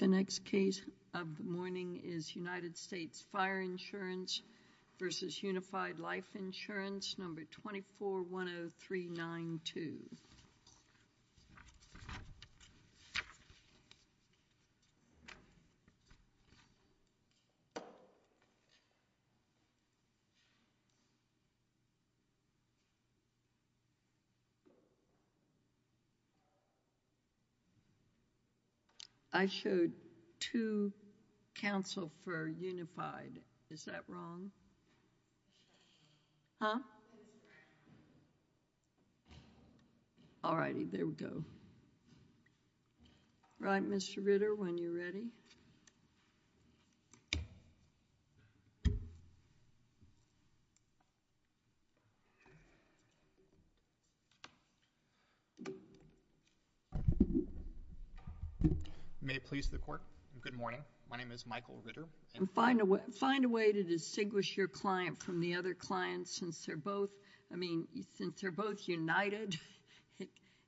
2410392 I showed two counsel for Unified, is that wrong? Huh? All righty, there we go. Right, Mr. Ritter, when you're ready. May it please the court, good morning, my name is Michael Ritter. Find a way to distinguish your client from the other client since they're both, I mean, since they're both united,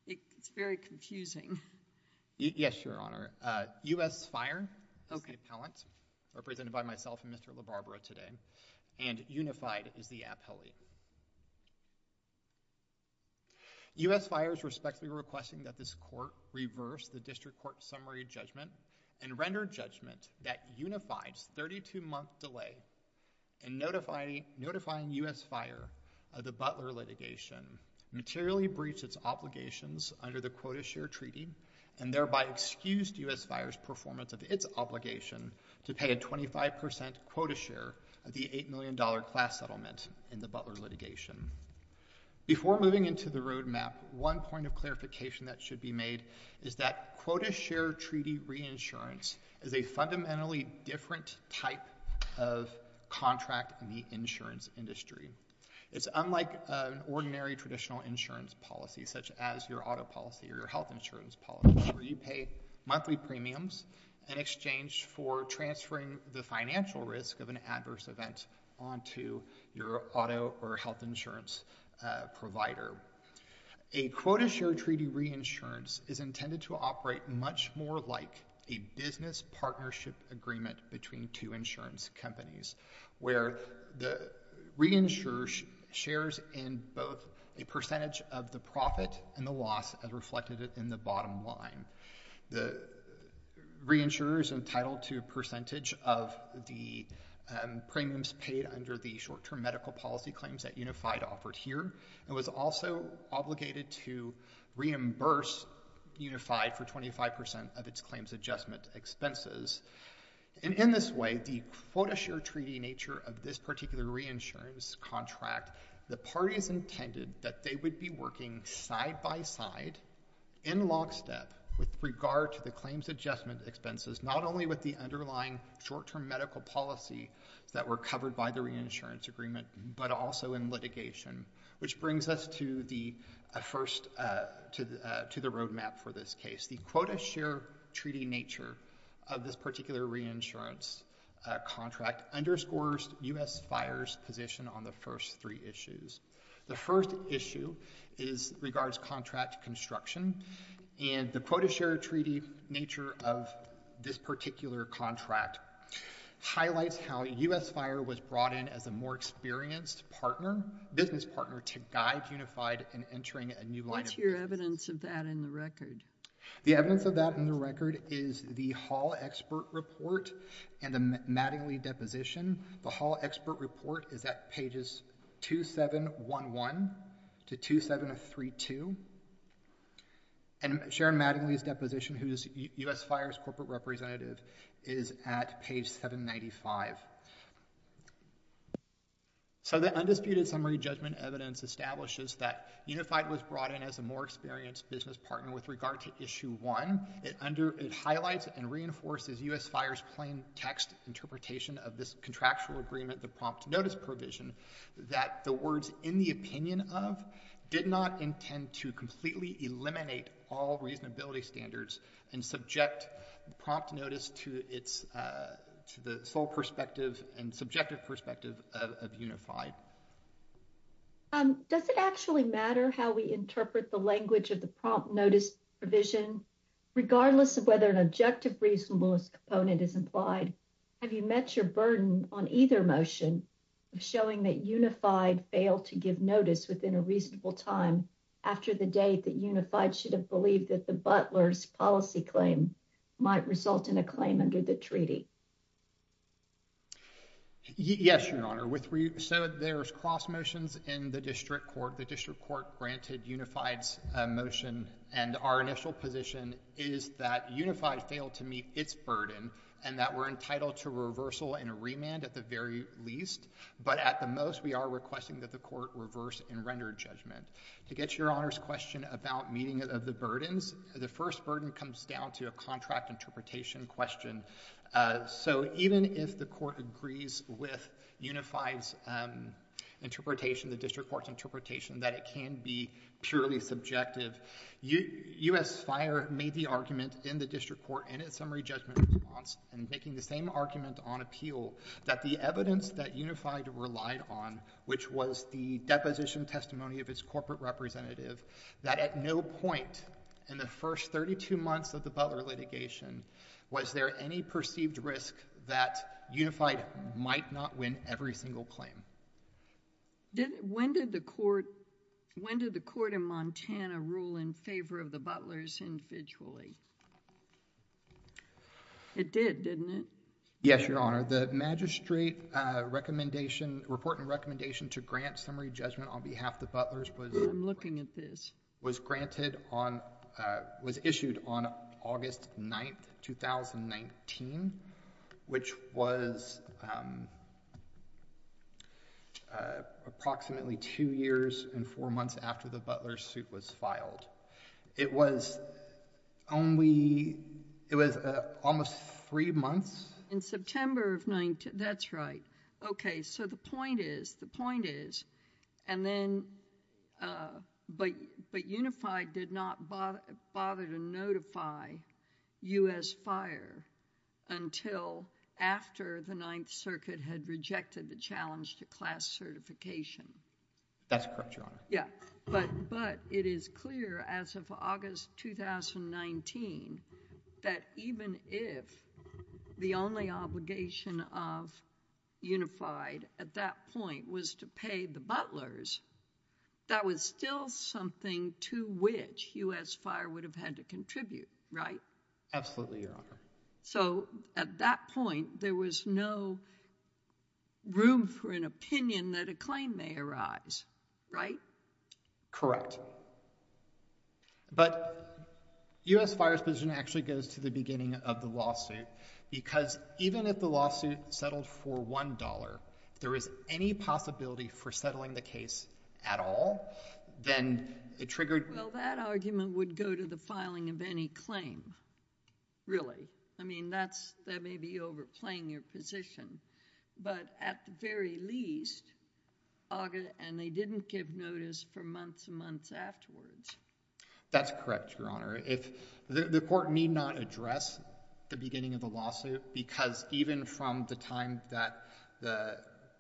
it's very confusing. Yes, Your Honor. U.S. Fire is the appellant, represented by myself and Mr. LaBarbera today, and Unified is the appellee. U.S. Fire is respectfully requesting that this court reverse the district court summary judgment and render judgment that Unified's 32-month delay in notifying U.S. Fire of the Butler litigation materially breached its obligations under the quota share treaty and thereby excused U.S. Fire's performance of its obligation to pay a 25% quota share of the $8 million class settlement in the Butler litigation. Before moving into the roadmap, one point of clarification that should be made is that quota share treaty reinsurance is a fundamentally different type of contract in the insurance industry. It's unlike an ordinary traditional insurance policy, such as your auto policy or your health insurance policy, where you pay monthly premiums in exchange for transferring the financial risk of an adverse event onto your auto or health insurance provider. A quota share treaty reinsurance is intended to operate much more like a business partnership agreement between two insurance companies, where the reinsurer shares in both a percentage of the profit and the loss as reflected in the bottom line. The reinsurer is entitled to a percentage of the premiums paid under the short-term medical policy claims that Unified offered here and was also obligated to reimburse Unified for 25% of its claims adjustment expenses. In this way, the quota share treaty nature of this particular reinsurance contract, the parties intended that they would be working side-by-side in lockstep with regard to the claims adjustment expenses, not only with the underlying short-term medical policy that were covered by the reinsurance agreement, but also in litigation. Which brings us to the roadmap for this case. The quota share treaty nature of this particular reinsurance contract underscores U.S. Fire's position on the first three issues. The first issue regards contract construction and the quota share treaty nature of this particular contract highlights how U.S. Fire was brought in as a more experienced business partner to guide Unified in entering a new line of business. What's your evidence of that in the record? The evidence of that in the record is the Hall expert report and the Mattingly deposition. The Hall expert report is at pages 2711 to 2732. And Sharon Mattingly's deposition, who is U.S. Fire's corporate representative, is at page 795. So the undisputed summary judgment evidence establishes that Unified was brought in as a more experienced business partner with regard to issue one. It highlights and reinforces U.S. Fire's plain text interpretation of this contractual agreement, the prompt notice provision, that the words in the opinion of did not intend to completely eliminate all reasonability standards and subject prompt notice to the sole perspective and subjective perspective of Unified. Does it actually matter how we interpret the language of the prompt notice provision, regardless of whether an objective reasonableness component is implied? Have you met your burden on either motion of showing that Unified failed to give notice within a reasonable time after the date that Unified should have believed that the Butler's policy claim might result in a claim under the treaty? Yes, Your Honor. So there's cross motions in the district court. The district court granted Unified's motion. And our initial position is that Unified failed to meet its burden and that we're entitled to reversal and a remand at the very least. But at the most, we are requesting that the court reverse and render judgment. To get to Your Honor's question about meeting of the burdens, the first burden comes down to a contract interpretation question. So even if the court agrees with Unified's interpretation, the district court's interpretation, that it can be purely subjective, U.S. Fire made the argument in the district court in its summary judgment response and making the same argument on appeal that the evidence that Unified relied on, which was the deposition testimony of its corporate representative, that at no point in the first 32 months of the Butler litigation was there any perceived risk that Unified might not win every single claim. When did the court in Montana rule in favor of the Butler's individually? It did, didn't it? Yes, Your Honor. The magistrate recommendation, report and recommendation to grant summary judgment on behalf of the Butler's was I'm looking at this. Was granted on, was issued on August 9th, 2019, which was approximately two years and four months after the Butler suit was filed. It was only, it was almost three months. In September of 19, that's right. Okay, so the point is, the point is, and then, but Unified did not bother to notify U.S. Fire until after the Ninth Circuit had rejected the challenge to class certification. That's correct, Your Honor. Yeah, but it is clear as of August 2019 that even if the only obligation of Unified at that point was to pay the Butler's, that was still something to which U.S. Fire would have had to contribute, right? Absolutely, Your Honor. So at that point, there was no room for an opinion that a claim may arise, right? Correct. But U.S. Fire's position actually goes to the beginning of the lawsuit because even if the lawsuit settled for $1, if there is any possibility for settling the case at all, then it triggered Well, that argument would go to the filing of any claim, really. I mean, that's, that may be overplaying your position. But at the very least, and they didn't give notice for months and months afterwards. That's correct, Your Honor. The court need not address the beginning of the lawsuit because even from the time that the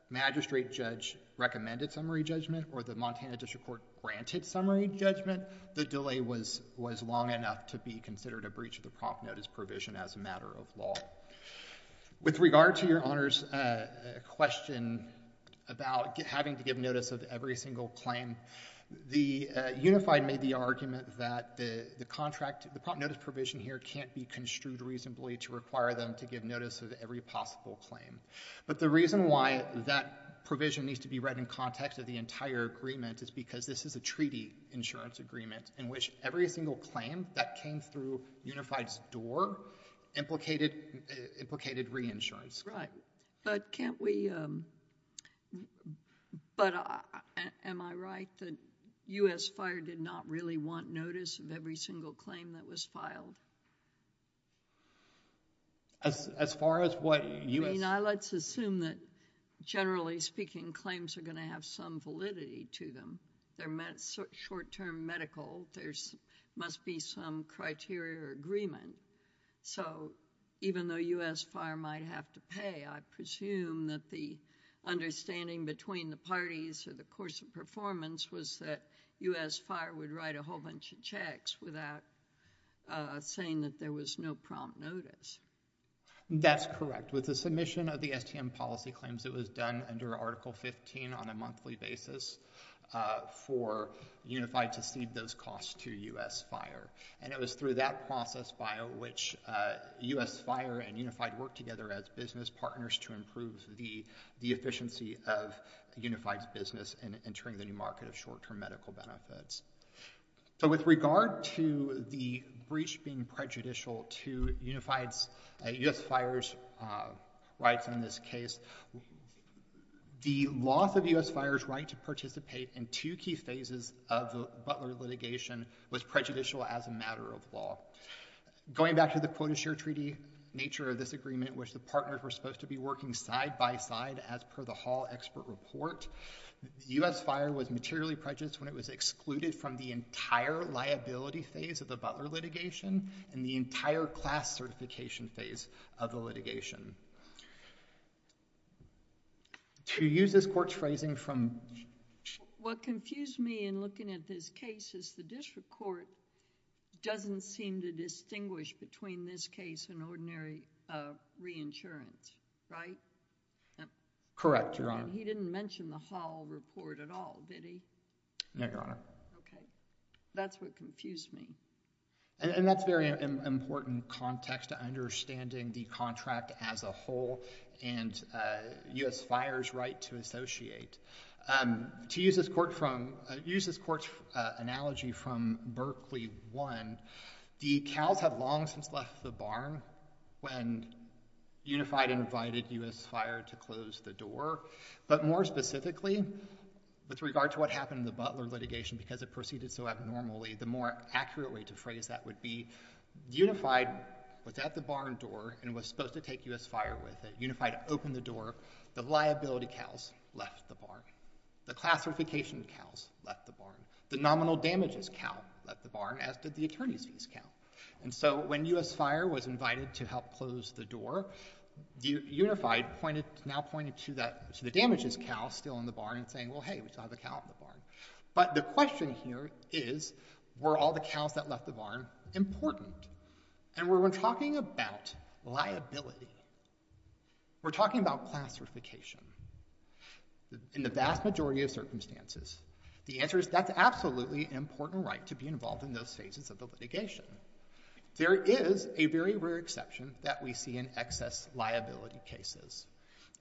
magistrate judge recommended summary judgment or the Montana District Court granted summary judgment, the delay was long enough to be considered a breach of the prompt notice provision as a matter of law. With regard to Your Honor's question about having to give notice of every single claim, the Unified made the argument that the contract, the prompt notice provision here, can't be construed reasonably to require them to give notice of every possible claim. But the reason why that provision needs to be read in context of the entire agreement is because this is a treaty insurance agreement in which every single claim that came through Unified's door implicated reinsurance. Right. But can't we, but am I right? That U.S. Fire did not really want notice of every single claim that was filed? As far as what U.S. I mean, let's assume that generally speaking, claims are going to have some validity to them. They're short-term medical. There must be some criteria or agreement. So even though U.S. Fire might have to pay, I presume that the understanding between the parties or the course of performance was that U.S. Fire would write a whole bunch of checks without saying that there was no prompt notice. That's correct. With the submission of the STM policy claims, it was done under Article 15 on a monthly basis for Unified to cede those costs to U.S. Fire. And it was through that process by which U.S. Fire and Unified worked together as business partners to improve the efficiency of Unified's business and entering the new market of short-term medical benefits. So with regard to the breach being prejudicial to Unified's, U.S. Fire's rights in this case, the loss of U.S. Going back to the quota share treaty nature of this agreement, which the partners were supposed to be working side-by-side as per the Hall expert report, U.S. Fire was materially prejudiced when it was excluded from the entire liability phase of the Butler litigation and the entire class certification phase of the litigation. To use this court's phrasing from… What confused me in looking at this case is the district court doesn't seem to distinguish between this case and ordinary reinsurance, right? Correct, Your Honor. He didn't mention the Hall report at all, did he? No, Your Honor. Okay. That's what confused me. And that's a very important context to understanding the contract as a whole and U.S. Fire's right to associate. To use this court's analogy from Berkeley 1, the Cowles have long since left the barn when Unified invited U.S. Fire to close the door. But more specifically, with regard to what happened in the Butler litigation because it proceeded so abnormally, the more accurate way to phrase that would be Unified was at the barn door and was supposed to take U.S. Fire with it. Unified opened the door. The liability Cowles left the barn. The class certification Cowles left the barn. The nominal damages Cowles left the barn, as did the attorney's fees Cowles. And so when U.S. Fire was invited to help close the door, Unified now pointed to the damages Cowles still in the barn and saying, well, hey, we saw the Cowles in the barn. But the question here is, were all the Cowles that left the barn important? And when we're talking about liability, we're talking about class certification in the vast majority of circumstances. The answer is that's absolutely an important right to be involved in those phases of the litigation. There is a very rare exception that we see in excess liability cases.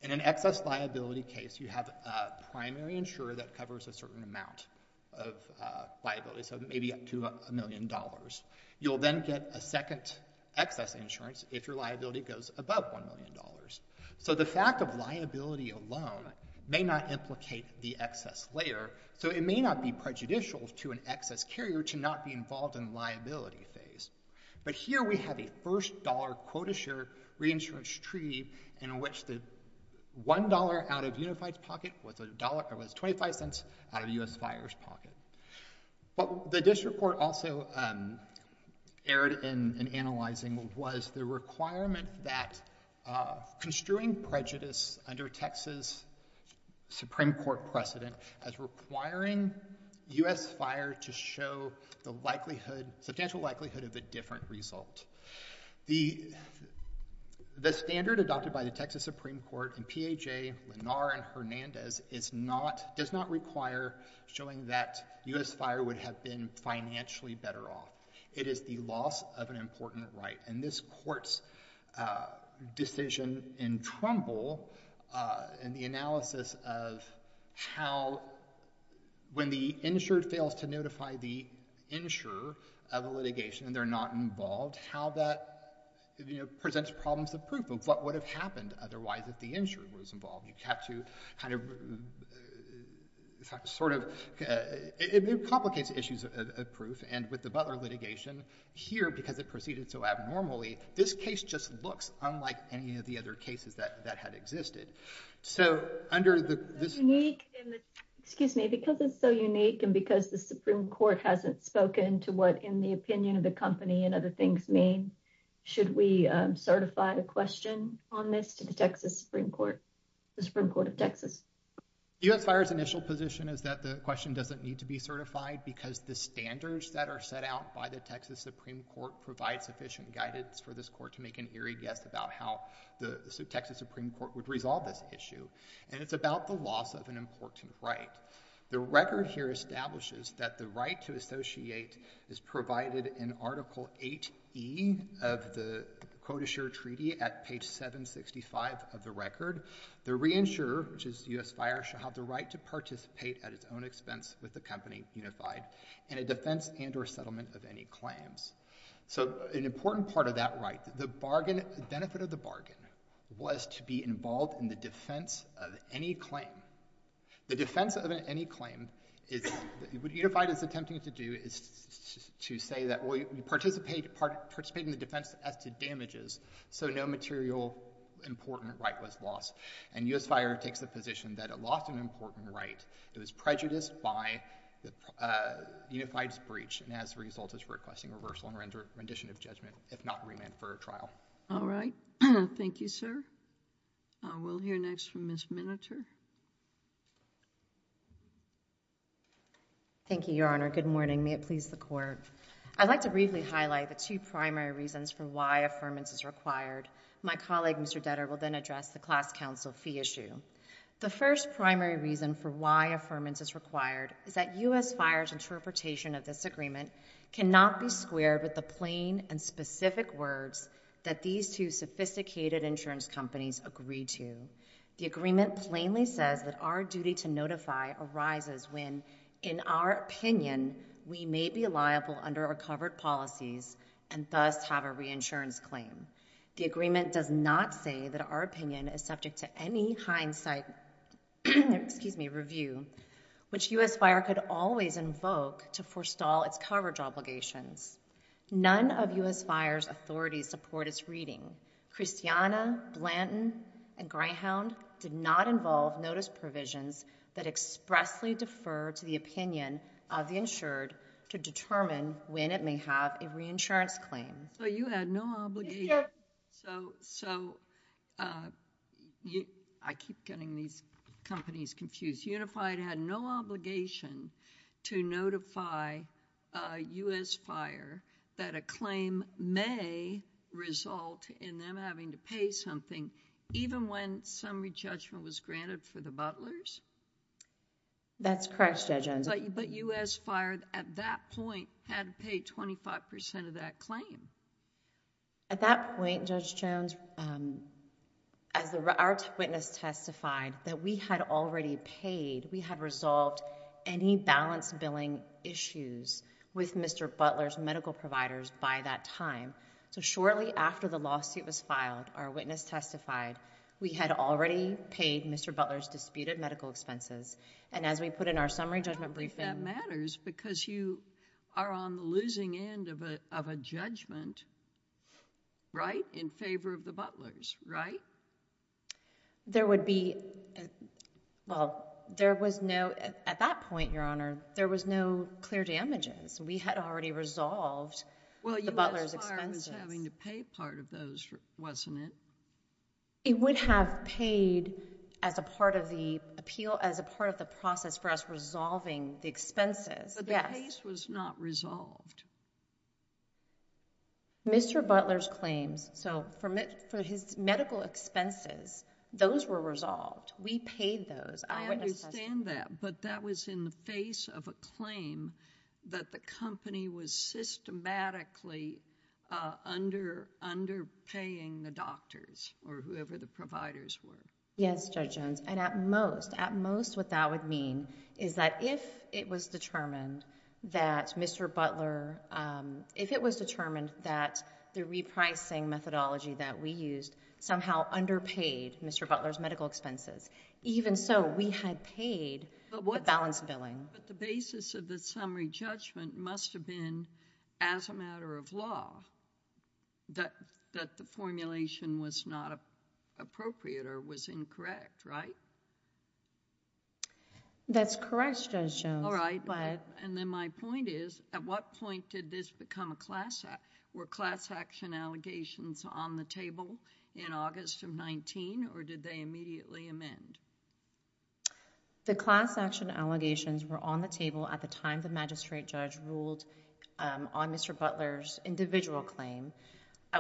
In an excess liability case, you have a primary insurer that covers a certain amount of liability, so maybe up to a million dollars. You'll then get a second excess insurance if your liability goes above $1 million. So the fact of liability alone may not implicate the excess layer, so it may not be prejudicial to an excess carrier to not be involved in the liability phase. But here we have a first dollar quota share reinsurance treaty in which the $1 out of Unified's pocket was $0.25 out of U.S. Fire's pocket. What the district court also erred in analyzing was the requirement that construing prejudice under Texas Supreme Court precedent as requiring U.S. Fire to show the substantial likelihood of a different result. The standard adopted by the Texas Supreme Court in PHA, Lennar, and Hernandez does not require showing that U.S. Fire would have been financially better off. It is the loss of an important right. And this court's decision in Trumbull in the analysis of how when the insured fails to notify the insurer of a litigation and they're not involved, how that presents problems of proof of what would have happened otherwise if the insurer was involved. You'd have to kind of, sort of, it complicates issues of proof. And with the Butler litigation here, because it proceeded so abnormally, this case just looks unlike any of the other cases that had existed. So, under this... Excuse me, because it's so unique and because the Supreme Court hasn't spoken to what in the opinion of the company and other things mean, should we certify a question on this to the Texas Supreme Court, the Supreme Court of Texas? U.S. Fire's initial position is that the question doesn't need to be certified because the standards that are set out by the Texas Supreme Court provide sufficient guidance for this court to make an eerie guess about how the Texas Supreme Court would resolve this issue. And it's about the loss of an important right. The record here establishes that the right to associate is provided in Article 8E of the Quotasure Treaty at page 765 of the record. The reinsurer, which is U.S. Fire, shall have the right to participate at its own expense with the company unified in a defense and or settlement of any claims. So, an important part of that right, the benefit of the bargain was to be involved in the defense of any claim. The defense of any claim, what unified is attempting to do is to say that we participate in the defense as to damages, so no material important right was lost. And U.S. Fire takes the position that it lost an important right. It was prejudiced by the unified's breach and as a result is requesting reversal and rendition of judgment, if not remand for a trial. All right. Thank you, sir. We'll hear next from Ms. Miniter. Thank you, Your Honor. Good morning. May it please the Court. I'd like to briefly highlight the two primary reasons for why affirmance is required. My colleague, Mr. Detter, will then address the class counsel fee issue. The first primary reason for why affirmance is required is that U.S. Fire's interpretation of this agreement cannot be squared with the plain and specific words that these two sophisticated insurance companies agree to. The agreement plainly says that our duty to notify arises when, in our opinion, we may be liable under our covered policies and thus have a reinsurance claim. The agreement does not say that our opinion is subject to any hindsight review, which U.S. Fire could always invoke to forestall its coverage obligations. None of U.S. Fire's authorities support its reading. Christiana, Blanton, and Greyhound did not involve notice provisions that expressly defer to the opinion of the insured to determine when it may have a reinsurance claim. So, you had no obligation. So, I keep getting these companies confused. Unified had no obligation to notify U.S. Fire that a claim may result in them having to pay something even when summary judgment was granted for the butlers? That's correct, Judge Enzo. But U.S. Fire, at that point, had to pay 25% of that claim. At that point, Judge Jones, as our witness testified, that we had already paid, we had resolved any balance billing issues with Mr. Butler's medical providers by that time. So, shortly after the lawsuit was filed, our witness testified, we had already paid Mr. Butler's disputed medical expenses. And as we put in our summary judgment briefing— I don't think that matters because you are on the losing end of a judgment, right, in favor of the butlers, right? There would be—well, there was no—at that point, Your Honor, there was no clear damages. We had already resolved the butlers' expenses. Well, U.S. Fire was having to pay part of those, wasn't it? It would have paid as a part of the appeal, as a part of the process for us resolving the expenses, yes. But the case was not resolved. Mr. Butler's claims, so for his medical expenses, those were resolved. We paid those. I understand that, but that was in the face of a claim that the company was systematically underpaying the doctors or whoever the providers were. Yes, Judge Jones. And at most, at most what that would mean is that if it was determined that Mr. Butler, if it was determined that the repricing methodology that we used somehow underpaid Mr. Butler's medical expenses, even so, we had paid the balance billing. But the basis of the summary judgment must have been as a matter of law that the formulation was not appropriate or was incorrect, right? That's correct, Judge Jones. All right. And then my point is, at what point did this become a class action? Were class action allegations on the table in August of 19 or did they immediately amend? The class action allegations were on the table at the time the magistrate judge ruled on Mr. Butler's individual claim. I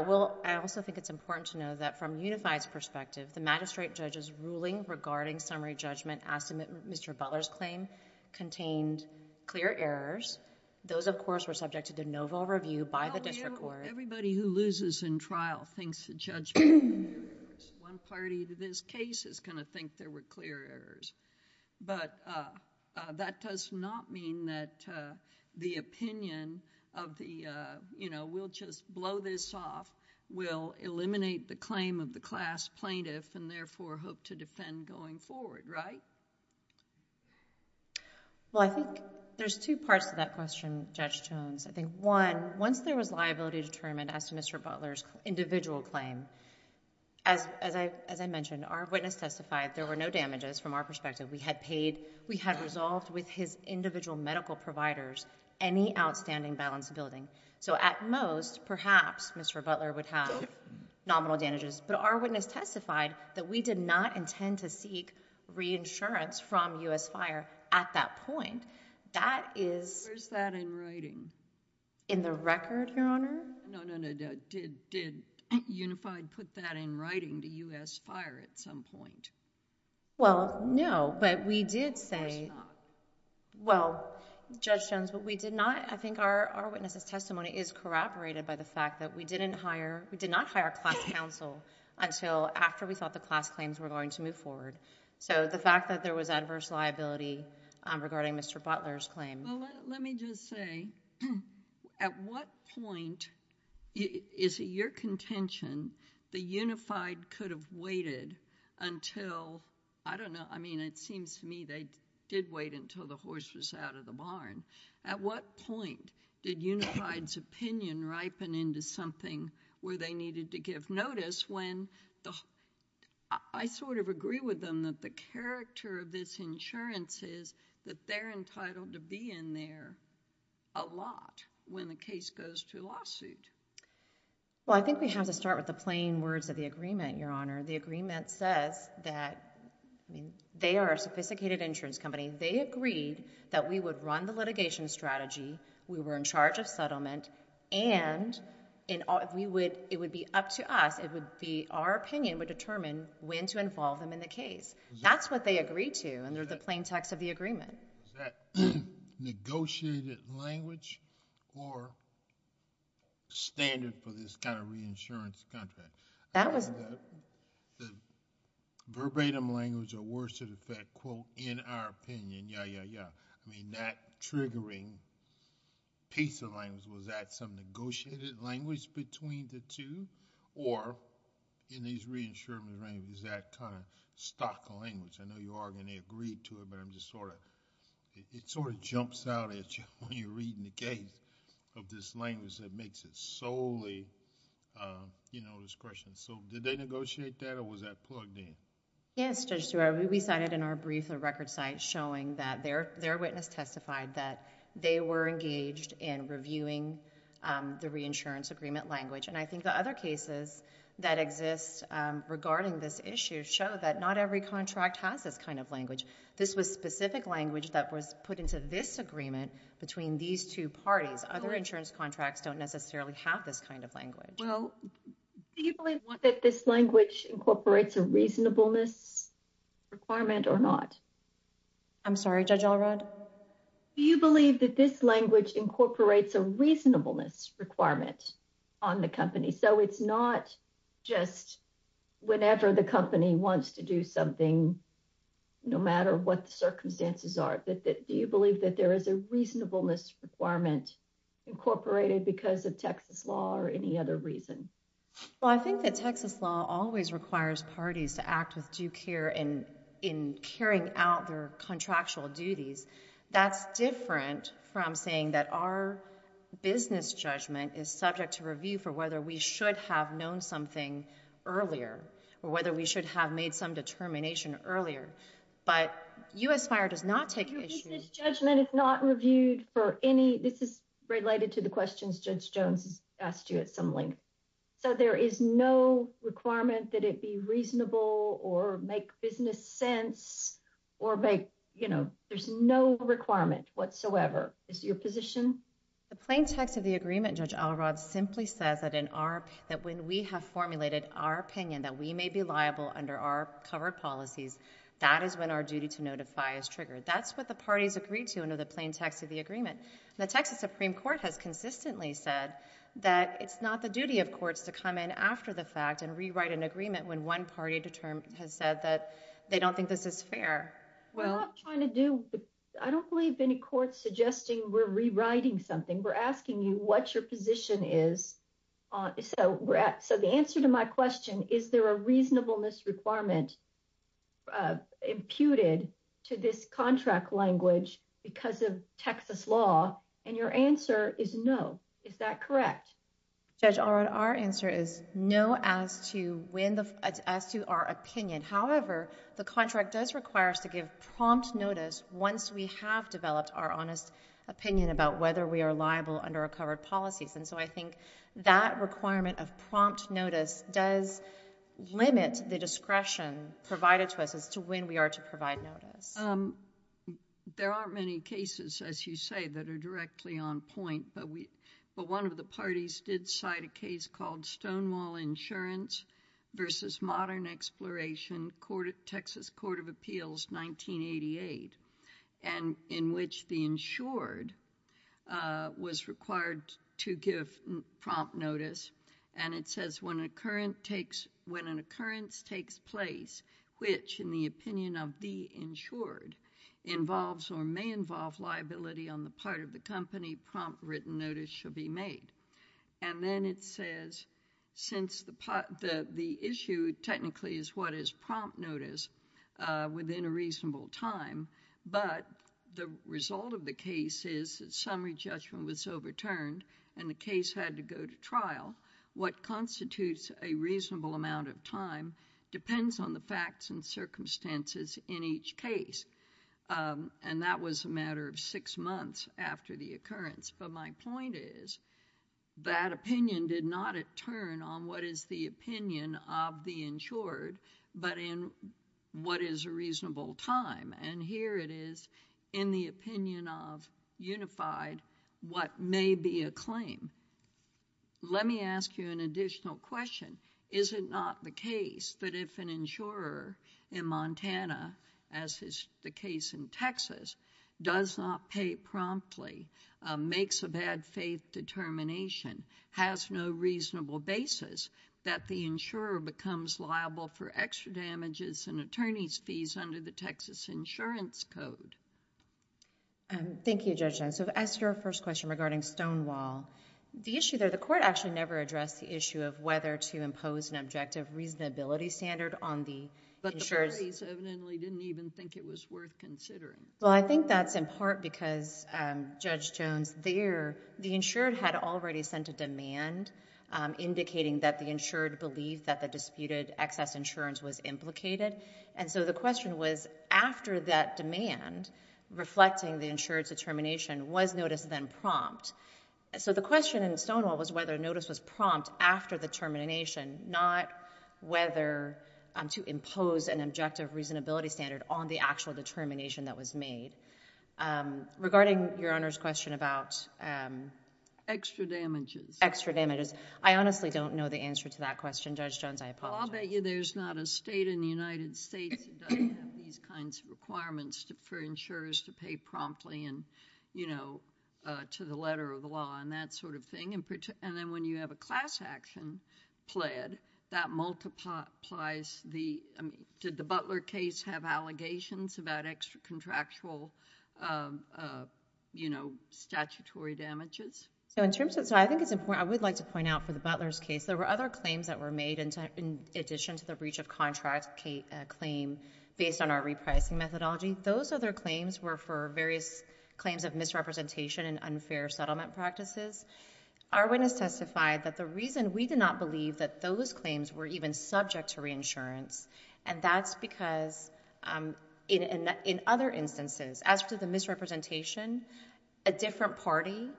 also think it's important to know that from UNIFI's perspective, the magistrate judge's ruling regarding summary judgment as to Mr. Butler's claim contained clear errors. Those, of course, were subjected to novel review by the district court. Everybody who loses in trial thinks the judge made clear errors. One party to this case is going to think there were clear errors. But that does not mean that the opinion of the, you know, we'll just blow this off. We'll eliminate the claim of the class plaintiff and therefore hope to defend going forward, right? Well, I think there's two parts to that question, Judge Jones. I think one, once there was liability determined as to Mr. Butler's individual claim, as I mentioned, our witness testified there were no damages from our perspective. We had paid, we had resolved with his individual medical providers any outstanding balance of building. So at most, perhaps Mr. Butler would have nominal damages. But our witness testified that we did not intend to seek reinsurance from U.S. Fire at that point. That is... Where's that in writing? In the record, Your Honor? No, no, no. Did UNIFI put that in writing to U.S. Fire at some point? Well, no, but we did say... Of course not. Well, Judge Jones, but we did not, I think our witness's testimony is corroborated by the fact that we didn't hire, we did not hire class counsel until after we thought the class claims were going to move forward. So the fact that there was adverse liability regarding Mr. Butler's claim... Well, let me just say, at what point is it your contention the Unified could have waited until... I don't know, I mean, it seems to me they did wait until the horse was out of the barn. At what point did Unified's opinion ripen into something where they needed to give notice when the... I sort of agree with them that the character of this insurance is that they're entitled to be in there a lot when the case goes to lawsuit. Well, I think we have to start with the plain words of the agreement, Your Honor. The agreement says that, I mean, they are a sophisticated insurance company. They agreed that we would run the litigation strategy, we were in charge of settlement, and it would be up to us, it would be our opinion would determine when to involve them in the case. That's what they agreed to under the plain text of the agreement. Was that negotiated language or standard for this kind of reinsurance contract? That was... Verbatim language or words to the effect, quote, in our opinion, yeah, yeah, yeah. I mean, that triggering piece of language, was that some negotiated language between the two? Or in these reinsurance arrangements, is that kind of stock language? I know you are going to agree to it, but I'm just sort of... It sort of jumps out at you when you're reading the case of this language that makes it solely discretion. Did they negotiate that or was that plugged in? Yes, Judge Stuart. We cited in our brief a record site showing that their witness testified that they were engaged in reviewing the reinsurance agreement language. I think the other cases that exist regarding this issue show that not every contract has this kind of language. This was specific language that was put into this agreement between these two parties. Other insurance contracts don't necessarily have this kind of language. Well, do you believe that this language incorporates a reasonableness requirement or not? I'm sorry, Judge Allred? Do you believe that this language incorporates a reasonableness requirement on the company? So it's not just whenever the company wants to do something, no matter what the circumstances are. Do you believe that there is a reasonableness requirement incorporated because of Texas law or any other reason? Well, I think that Texas law always requires parties to act with due care in carrying out their contractual duties. That's different from saying that our business judgment is subject to review for whether we should have known something earlier or whether we should have made some determination earlier. But U.S. Fire does not take this judgment. It's not reviewed for any. This is related to the questions Judge Jones asked you at some length. So there is no requirement that it be reasonable or make business sense or make, you know, there's no requirement whatsoever. Is your position? The plain text of the agreement, Judge Allred, simply says that when we have formulated our opinion that we may be liable under our covered policies, that is when our duty to notify is triggered. That's what the parties agreed to under the plain text of the agreement. The Texas Supreme Court has consistently said that it's not the duty of courts to come in after the fact and rewrite an agreement when one party has said that they don't think this is fair. We're not trying to do, I don't believe any court suggesting we're rewriting something. We're asking you what your position is. So the answer to my question, is there a reasonableness requirement imputed to this contract language because of Texas law? And your answer is no. Is that correct? Judge Allred, our answer is no as to our opinion. However, the contract does require us to give prompt notice once we have developed our honest opinion about whether we are liable under our covered policies. And so I think that requirement of prompt notice does limit the discretion provided to us as to when we are to provide notice. There aren't many cases, as you say, that are directly on point. But one of the parties did cite a case called Stonewall Insurance v. Modern Exploration, Texas Court of Appeals, 1988, in which the insured was required to give prompt notice. And it says, when an occurrence takes place which, in the opinion of the insured, involves or may involve liability on the part of the company, prompt written notice shall be made. And then it says, since the issue technically is what is prompt notice within a reasonable time, but the result of the case is that summary judgment was overturned and the case had to go to trial, what constitutes a reasonable amount of time depends on the facts and circumstances in each case. And that was a matter of six months after the occurrence. But my point is, that opinion did not turn on what is the opinion of the insured, but in what is a reasonable time. And here it is, in the opinion of Unified, what may be a claim. Let me ask you an additional question. Is it not the case that if an insurer in Montana, as is the case in Texas, does not pay promptly, makes a bad faith determination, has no reasonable basis, that the insurer becomes liable for extra damages and attorney's fees under the Texas Insurance Code? Thank you, Judge Jones. So as to your first question regarding Stonewall, the issue there, the court actually never addressed the issue of whether to impose an objective reasonability standard on the insurers. But the parties evidently didn't even think it was worth considering. Well, I think that's in part because, Judge Jones, there, the insured had already sent a demand, indicating that the insured believed that the disputed excess insurance was implicated. And so the question was, after that demand, reflecting the insured's determination, was notice then prompt? So the question in Stonewall was whether notice was prompt after the termination, not whether to impose an objective reasonability standard on the actual determination that was made. Regarding Your Honor's question about? Extra damages. Extra damages. I honestly don't know the answer to that question, Judge Jones. I apologize. Well, I'll bet you there's not a state in the United States that doesn't have these kinds of requirements for insurers to pay promptly and, you know, to the letter of the law and that sort of thing. And then when you have a class action pled, that multiplies the, I mean, did the Butler case have allegations about extra contractual, you know, statutory damages? So in terms of, so I think it's important, I would like to point out for the Butler's case, there were other claims that were made in addition to the breach of contract claim based on our repricing methodology. Those other claims were for various claims of misrepresentation and unfair settlement practices. Our witness testified that the reason we did not believe that those claims were even subject to reinsurance, and that's because in other instances, as to the misrepresentation, a different party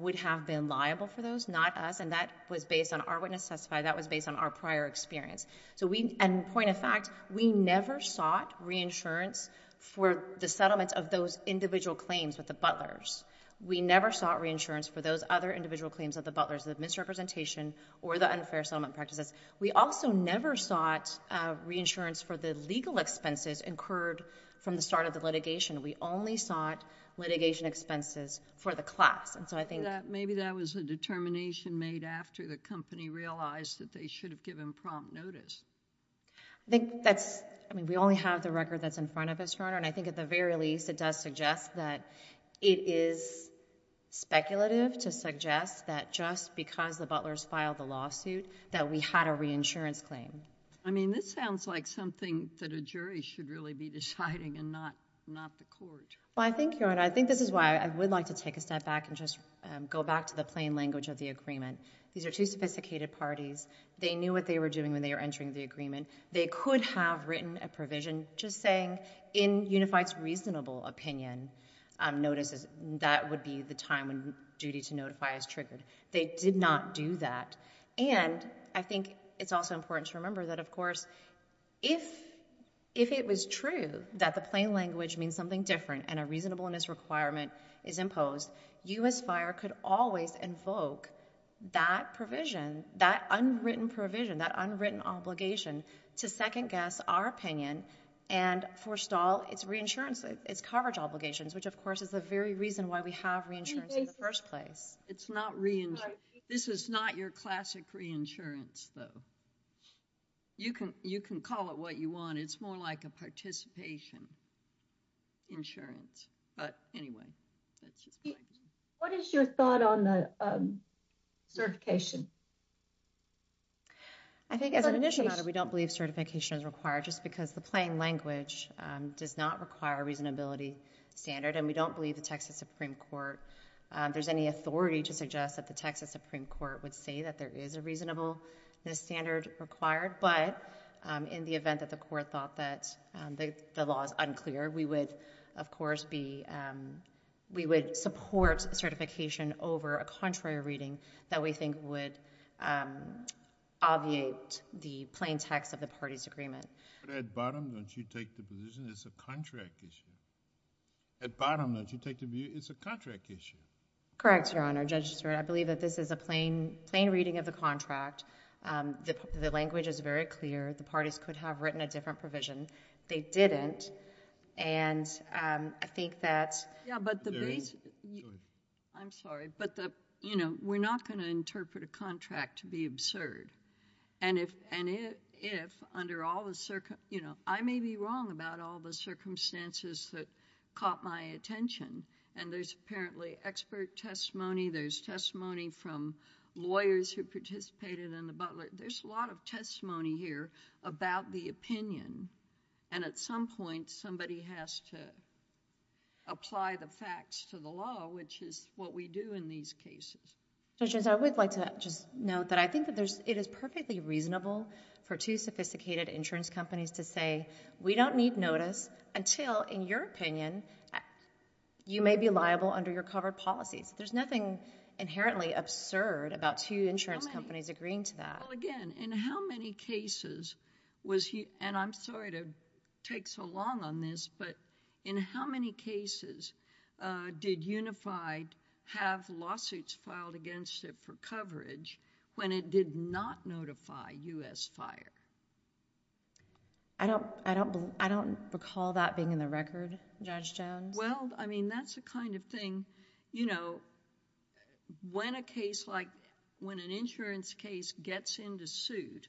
would have been liable for those, not us. And that was based on our witness testified. That was based on our prior experience. So we, and point of fact, we never sought reinsurance for the settlement of those individual claims with the Butler's. We never sought reinsurance for those other individual claims of the Butler's, the misrepresentation or the unfair settlement practices. We also never sought reinsurance for the legal expenses incurred from the start of the litigation. We only sought litigation expenses for the class. Maybe that was a determination made after the company realized that they should have given prompt notice. I think that's, I mean, we only have the record that's in front of us, Your Honor, and I think at the very least, it does suggest that it is speculative to suggest that just because the Butler's filed the lawsuit, that we had a reinsurance claim. I mean, this sounds like something that a jury should really be deciding and not the court. Well, I think, Your Honor, I think this is why I would like to take a step back and just go back to the plain language of the agreement. These are two sophisticated parties. They knew what they were doing when they were entering the agreement. They could have written a provision just saying, in Unified's reasonable opinion, that would be the time when duty to notify is triggered. They did not do that. And I think it's also important to remember that, of course, if it was true that the plain language means something different and a reasonableness requirement is imposed, U.S. Fire could always invoke that provision, that unwritten provision, that unwritten obligation to second-guess our opinion and forestall its reinsurance, its coverage obligations, which, of course, is the very reason why we have reinsurance in the first place. It's not reinsurance. This is not your classic reinsurance, though. You can call it what you want. It's more like a participation insurance. But anyway, that's just my opinion. What is your thought on the certification? I think as an initial matter, we don't believe certification is required just because the plain language does not require a reasonability standard, and we don't believe the Texas Supreme Court, there's any authority to suggest that the Texas Supreme Court would say that there is a reasonableness standard required. But in the event that the Court thought that the law is unclear, we would, of course, be, we would support certification over a contrary reading that we think would obviate the plain text of the party's agreement. But at bottom, don't you take the position it's a contract issue? At bottom, don't you take the view it's a contract issue? Correct, Your Honor. Judge Stewart, I believe that this is a plain reading of the contract. The language is very clear. The parties could have written a different provision. They didn't. And I think that there is. I'm sorry, but, you know, we're not going to interpret a contract to be absurd. And if under all the... you know, I may be wrong about all the circumstances that caught my attention. And there's apparently expert testimony. There's testimony from lawyers who participated in the Butler. There's a lot of testimony here about the opinion. And at some point, somebody has to apply the facts to the law, which is what we do in these cases. Judge Jones, I would like to just note that I think that it is perfectly reasonable for two sophisticated insurance companies to say, we don't need notice until, in your opinion, you may be liable under your covered policies. There's nothing inherently absurd about two insurance companies agreeing to that. Well, again, in how many cases was he... and I'm sorry to take so long on this, but in how many cases did Unified have lawsuits filed against it for coverage when it did not notify U.S. Fire? I don't recall that being in the record, Judge Jones. Well, I mean, that's the kind of thing, you know... When a case like... when an insurance case gets into suit,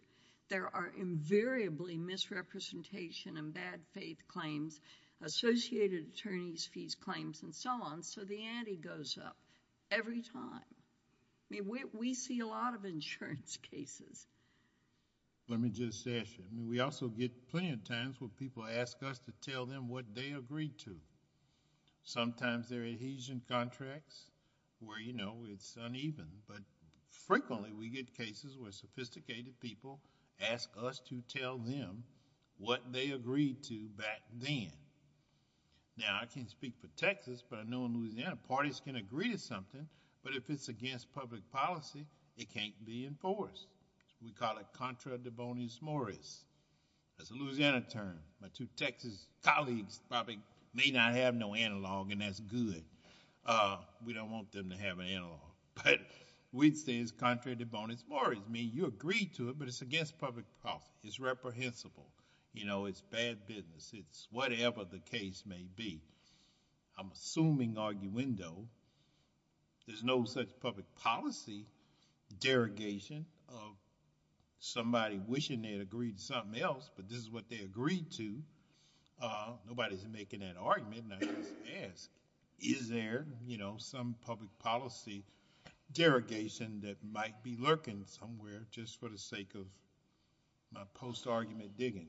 there are invariably misrepresentation and bad faith claims, associated attorney's fees claims, and so on, so the ante goes up every time. I mean, we see a lot of insurance cases. Let me just ask you. I mean, we also get plenty of times where people ask us to tell them what they agreed to. Sometimes they're adhesion contracts where, you know, it's uneven, but frequently we get cases where sophisticated people ask us to tell them what they agreed to back then. Now, I can't speak for Texas, but I know in Louisiana, parties can agree to something, but if it's against public policy, it can't be enforced. We call it contra devonis moris. That's a Louisiana term. My two Texas colleagues probably may not have no analog, and that's good. We don't want them to have an analog, but we'd say it's contra devonis moris. I mean, you agreed to it, but it's against public policy. It's reprehensible. You know, it's bad business. It's whatever the case may be. I'm assuming, arguendo, there's no such public policy derogation of somebody wishing they had agreed to something else, but this is what they agreed to. Nobody's making that argument, and I just ask, is there, you know, some public policy derogation that might be lurking somewhere just for the sake of my post-argument digging?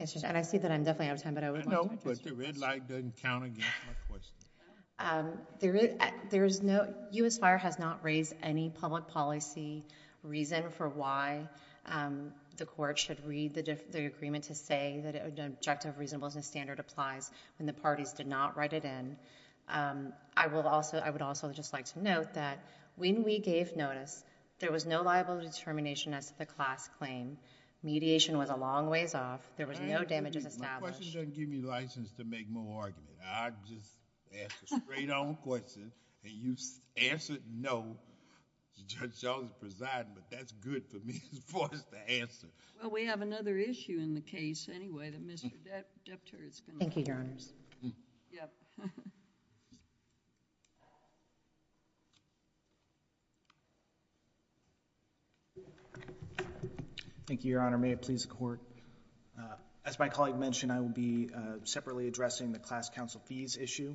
And I see that I'm definitely out of time, but I would like to address your question. No, but the red light doesn't count against my question. There is no, U.S. Fire has not raised any public policy reason for why the court should read the agreement to say that an objective reasonableness standard applies when the parties did not write it in. I would also just like to note that when we gave notice, there was no liable determination as to the class claim. Mediation was a long ways off. There was no damages established. My question doesn't give me license to make more arguments. I just ask a straight-on question, and you answer it, no. Judge Jones presiding, but that's good for me, is forced to answer. Well, we have another issue in the case, anyway, that Mr. Depter is going to... Thank you, Your Honors. Thank you, Your Honor. May it please the Court. As my colleague mentioned, I will be separately addressing the class counsel fees issue.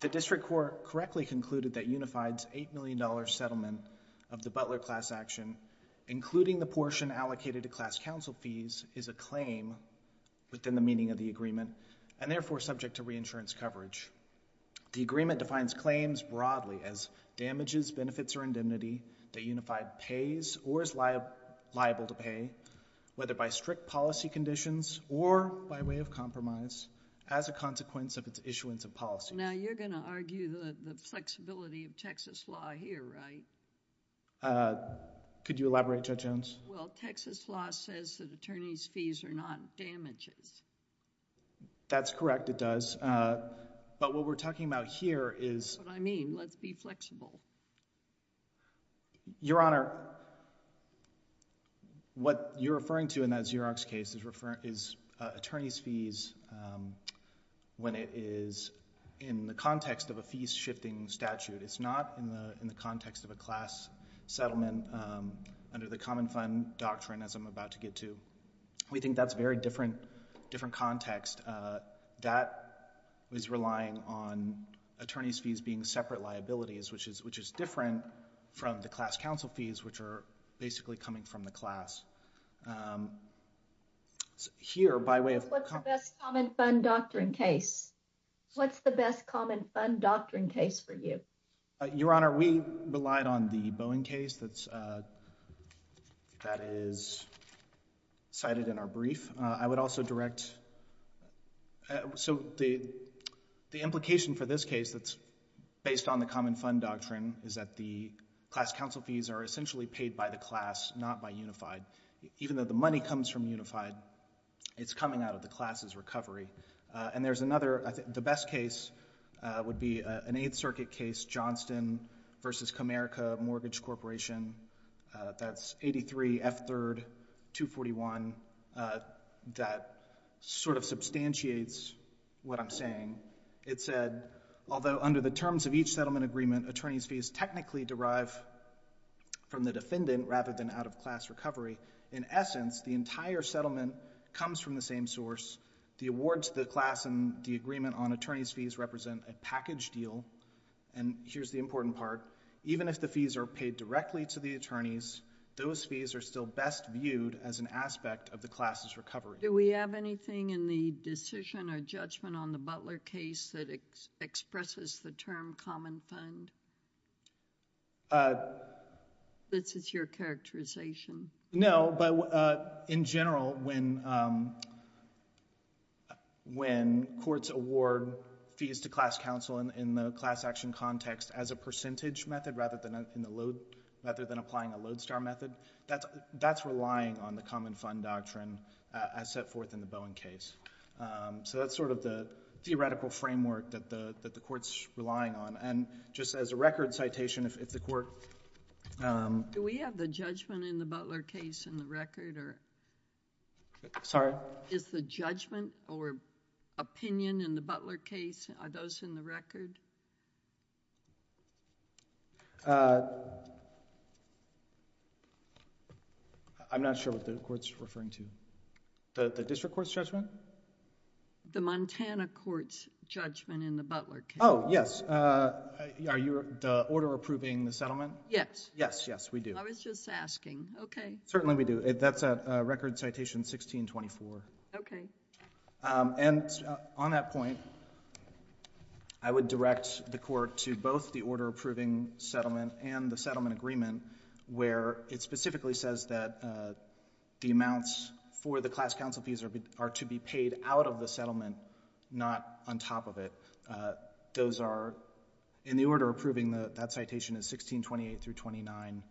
The district court correctly concluded that Unified's $8 million settlement of the Butler class action, including the portion allocated to class counsel fees, is a claim within the meaning of the agreement, and therefore subject to reinsurance coverage. The agreement defines claims broadly as damages, benefits, or indemnity that Unified pays or is liable to pay, whether by strict policy conditions or by way of compromise, as a consequence of its issuance of policy. Now, you're going to argue the flexibility of Texas law here, right? Could you elaborate, Judge Jones? Well, Texas law says that attorneys' fees are not damages. That's correct, it does. But what we're talking about here is... That's what I mean. Let's be flexible. Your Honor, what you're referring to in that Xerox case is attorneys' fees when it is in the context of a fees-shifting statute. It's not in the context of a class settlement under the Common Fund Doctrine, as I'm about to get to. We think that's a very different context. That is relying on attorneys' fees being separate liabilities, which is different from the class counsel fees, which are basically coming from the class. Here, by way of... What's the best Common Fund Doctrine case? What's the best Common Fund Doctrine case for you? Your Honor, we relied on the Boeing case that is cited in our brief. I would also direct... So the implication for this case that's based on the Common Fund Doctrine is that the class counsel fees are essentially paid by the class, not by Unified. Even though the money comes from Unified, it's coming out of the class's recovery. And there's another... The best case would be an Eighth Circuit case, Johnston v. Comerica Mortgage Corporation. That's 83 F. 3rd 241. That sort of substantiates what I'm saying. It said, although under the terms of each settlement agreement, attorneys' fees technically derive from the defendant rather than out-of-class recovery, in essence, the entire settlement comes from the same source. The awards to the class and the agreement on attorneys' fees represent a package deal. And here's the important part. Even if the fees are paid directly to the attorneys, those fees are still best viewed as an aspect of the class's recovery. Do we have anything in the decision or judgment on the Butler case that expresses the term Common Fund? This is your characterization. No, but in general, when courts award fees to class counsel in the class action context as a percentage method rather than applying a load-star method, that's relying on the Common Fund doctrine as set forth in the Bowen case. So that's sort of the theoretical framework that the Court's relying on. And just as a record citation, if the Court... Do we have the judgment in the Butler case in the record or... Sorry? Is the judgment or opinion in the Butler case, are those in the record? I'm not sure what the Court's referring to. The district court's judgment? The Montana court's judgment in the Butler case. Oh, yes. Are you... the order approving the settlement? Yes. Yes, yes, we do. I was just asking. Certainly we do. That's at record citation 1624. Okay. And on that point, I would direct the Court to both the order approving settlement and the settlement agreement, where it specifically says that the amounts for the class counsel fees are to be paid out of the settlement, not on top of it. Those are in the order approving that citation is 1628-29,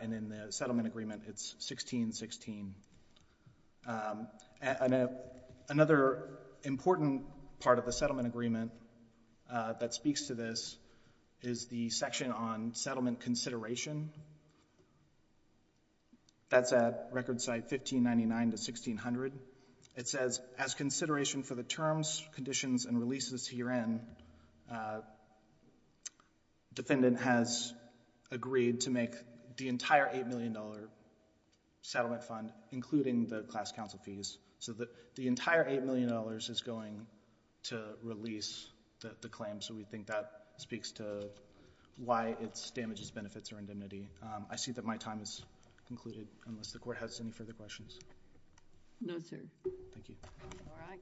and in the settlement agreement it's 1616. Another important part of the settlement agreement that speaks to this is the section on settlement consideration. That's at record site 1599-1600. It says, as consideration for the terms, conditions, and releases herein, defendant has agreed to make the entire $8 million settlement fund, including the class counsel fees. So the entire $8 million is going to release the claim, so we think that speaks to why it damages benefits or indemnity. I see that my time is concluded, unless the Court has any further questions. No, sir. Thank you. All right.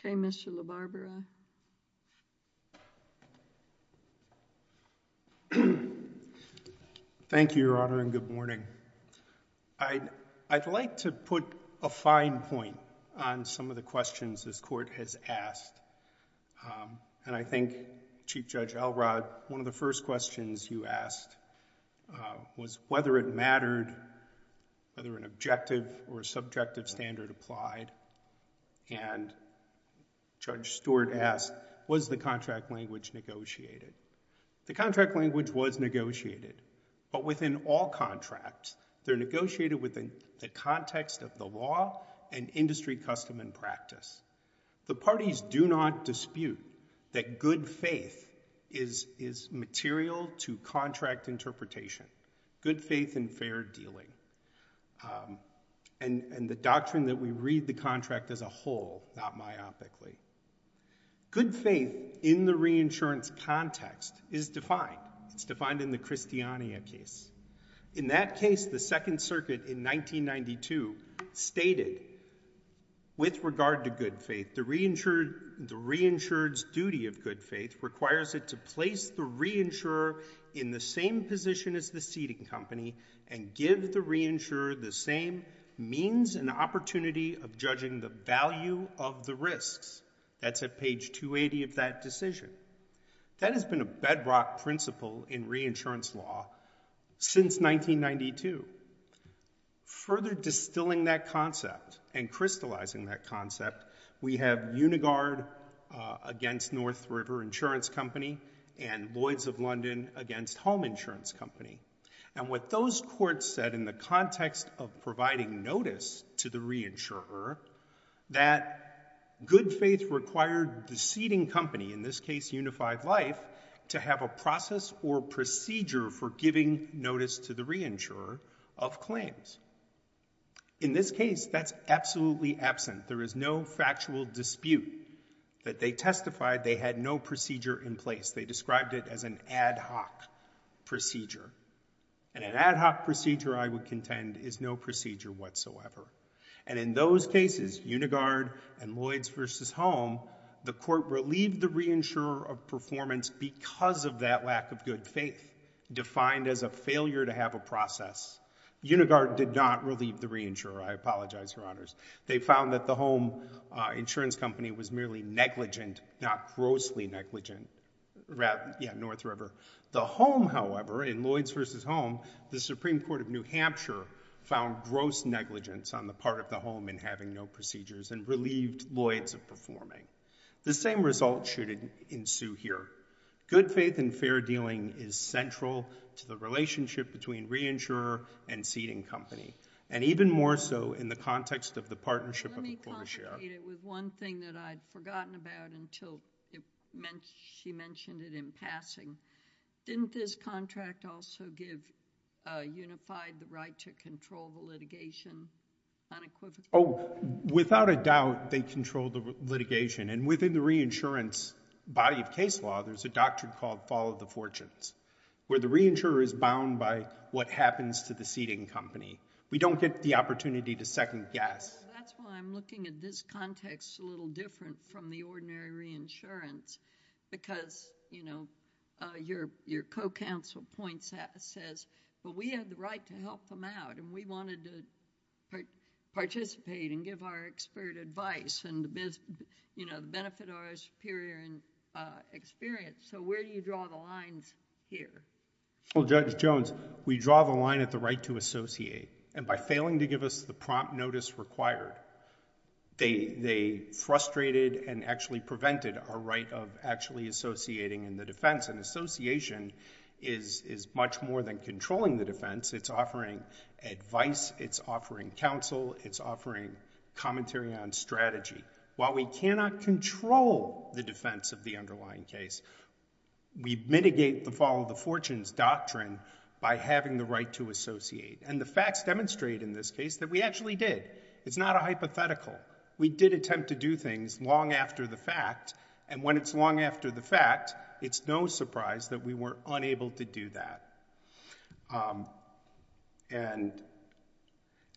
Okay, Mr. LaBarbera. Thank you, Your Honor, and good morning. I'd like to put a fine point on some of the questions this Court has asked, and I think, Chief Judge Elrod, one of the first questions you asked was whether it mattered, whether an objective or subjective standard applied, and Judge Stewart asked, was the contract language negotiated? The contract language was negotiated, but within all contracts, they're negotiated within the context of the law and industry custom and practice. The parties do not dispute that good faith is material to contract interpretation, good faith in fair dealing, and the doctrine that we read the contract as a whole, not myopically. Good faith in the reinsurance context is defined. It's defined in the Christiania case. In that case, the Second Circuit in 1992 stated, with regard to good faith, the reinsured's duty of good faith requires it to place the reinsurer in the same position as the seating company and give the reinsurer the same means and opportunity of judging the value of the risks. That's at page 280 of that decision. That has been a bedrock principle in reinsurance law since 1992. Further distilling that concept and crystallizing that concept, we have Unigard against North River Insurance Company and Lloyds of London against Home Insurance Company, and what those courts said in the context of providing notice to the reinsurer, that good faith required the seating company, in this case Unified Life, to have a process or procedure for giving notice to the reinsurer of claims. In this case, that's absolutely absent. There is no factual dispute that they testified they had no procedure in place. They described it as an ad hoc procedure, and an ad hoc procedure, I would contend, is no procedure whatsoever. And in those cases, Unigard and Lloyds versus Home, the court relieved the reinsurer of performance because of that lack of good faith, defined as a failure to have a process. Unigard did not relieve the reinsurer. I apologize, Your Honors. They found that the Home Insurance Company was merely negligent, not grossly negligent. Yeah, North River. The Home, however, in Lloyds versus Home, the Supreme Court of New Hampshire, found gross negligence on the part of the Home in having no procedures and relieved Lloyds of performing. The same result should ensue here. Good faith and fair dealing is central to the relationship between reinsurer and seating company, and even more so in the context of the partnership of the court of share. It was one thing that I'd forgotten about until she mentioned it in passing. Didn't this contract also give Unified the right to control the litigation unequivocally? Oh, without a doubt, they control the litigation. And within the reinsurance body of case law, there's a doctrine called follow the fortunes, where the reinsurer is bound by what happens to the seating company. We don't get the opportunity to second guess. That's why I'm looking at this context a little different from the ordinary reinsurance because, you know, your co-counsel says, well, we have the right to help them out, and we wanted to participate and give our expert advice and, you know, benefit our superior experience. So where do you draw the lines here? Well, Judge Jones, we draw the line at the right to associate, and by failing to give us the prompt notice required, they frustrated and actually prevented our right of actually associating in the defense. And association is much more than controlling the defense. It's offering advice. It's offering counsel. It's offering commentary on strategy. While we cannot control the defense of the underlying case, we mitigate the follow the fortunes doctrine by having the right to associate. And the facts demonstrate in this case that we actually did. It's not a hypothetical. We did attempt to do things long after the fact, and when it's long after the fact, it's no surprise that we were unable to do that. And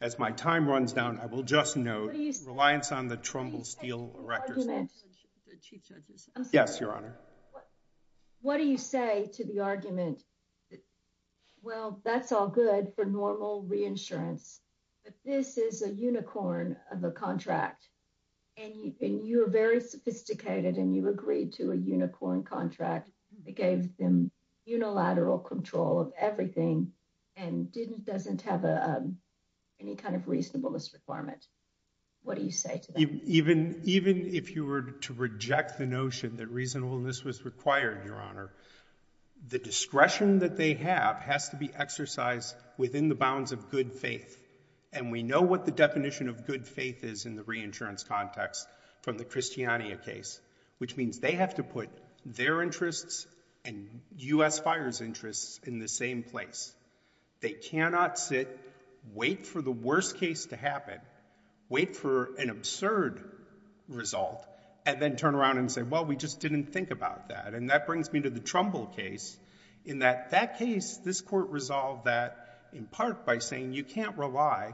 as my time runs down, I will just note reliance on the Trumbull Steel Erector's Law. Yes, Your Honor. What do you say to the argument that, well, that's all good for normal reinsurance, but this is a unicorn of a contract, and you are very sophisticated, and you agreed to a unicorn contract that gave them unilateral control of everything and doesn't have any kind of reasonableness requirement? What do you say to that? Even if you were to reject the notion that reasonableness was required, Your Honor, the discretion that they have has to be exercised within the bounds of good faith, and we know what the definition of good faith is in the reinsurance context from the Christiania case, which means they have to put their interests and U.S. Fire's interests in the same place. They cannot sit, wait for the worst case to happen, wait for an absurd result, and then turn around and say, well, we just didn't think about that. And that brings me to the Trumbull case, in that that case, this Court resolved that in part by saying you can't rely.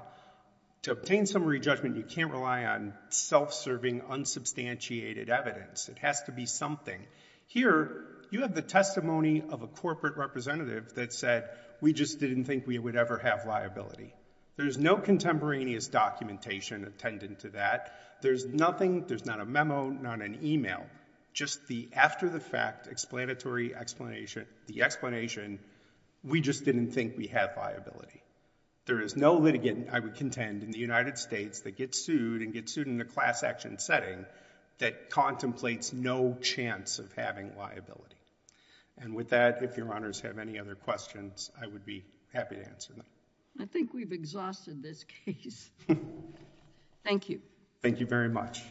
To obtain summary judgment, you can't rely on self-serving, unsubstantiated evidence. It has to be something. Here, you have the testimony of a corporate representative that said, we just didn't think we would ever have liability. There's no contemporaneous documentation attendant to that. There's nothing, there's not a memo, not an email, just the after-the-fact explanatory explanation, the explanation, we just didn't think we have liability. There is no litigant, I would contend, in the United States that gets sued and gets sued in a class action setting that contemplates no chance of having liability. And with that, if Your Honors have any other questions, I would be happy to answer them. I think we've exhausted this case. Thank you. Thank you very much.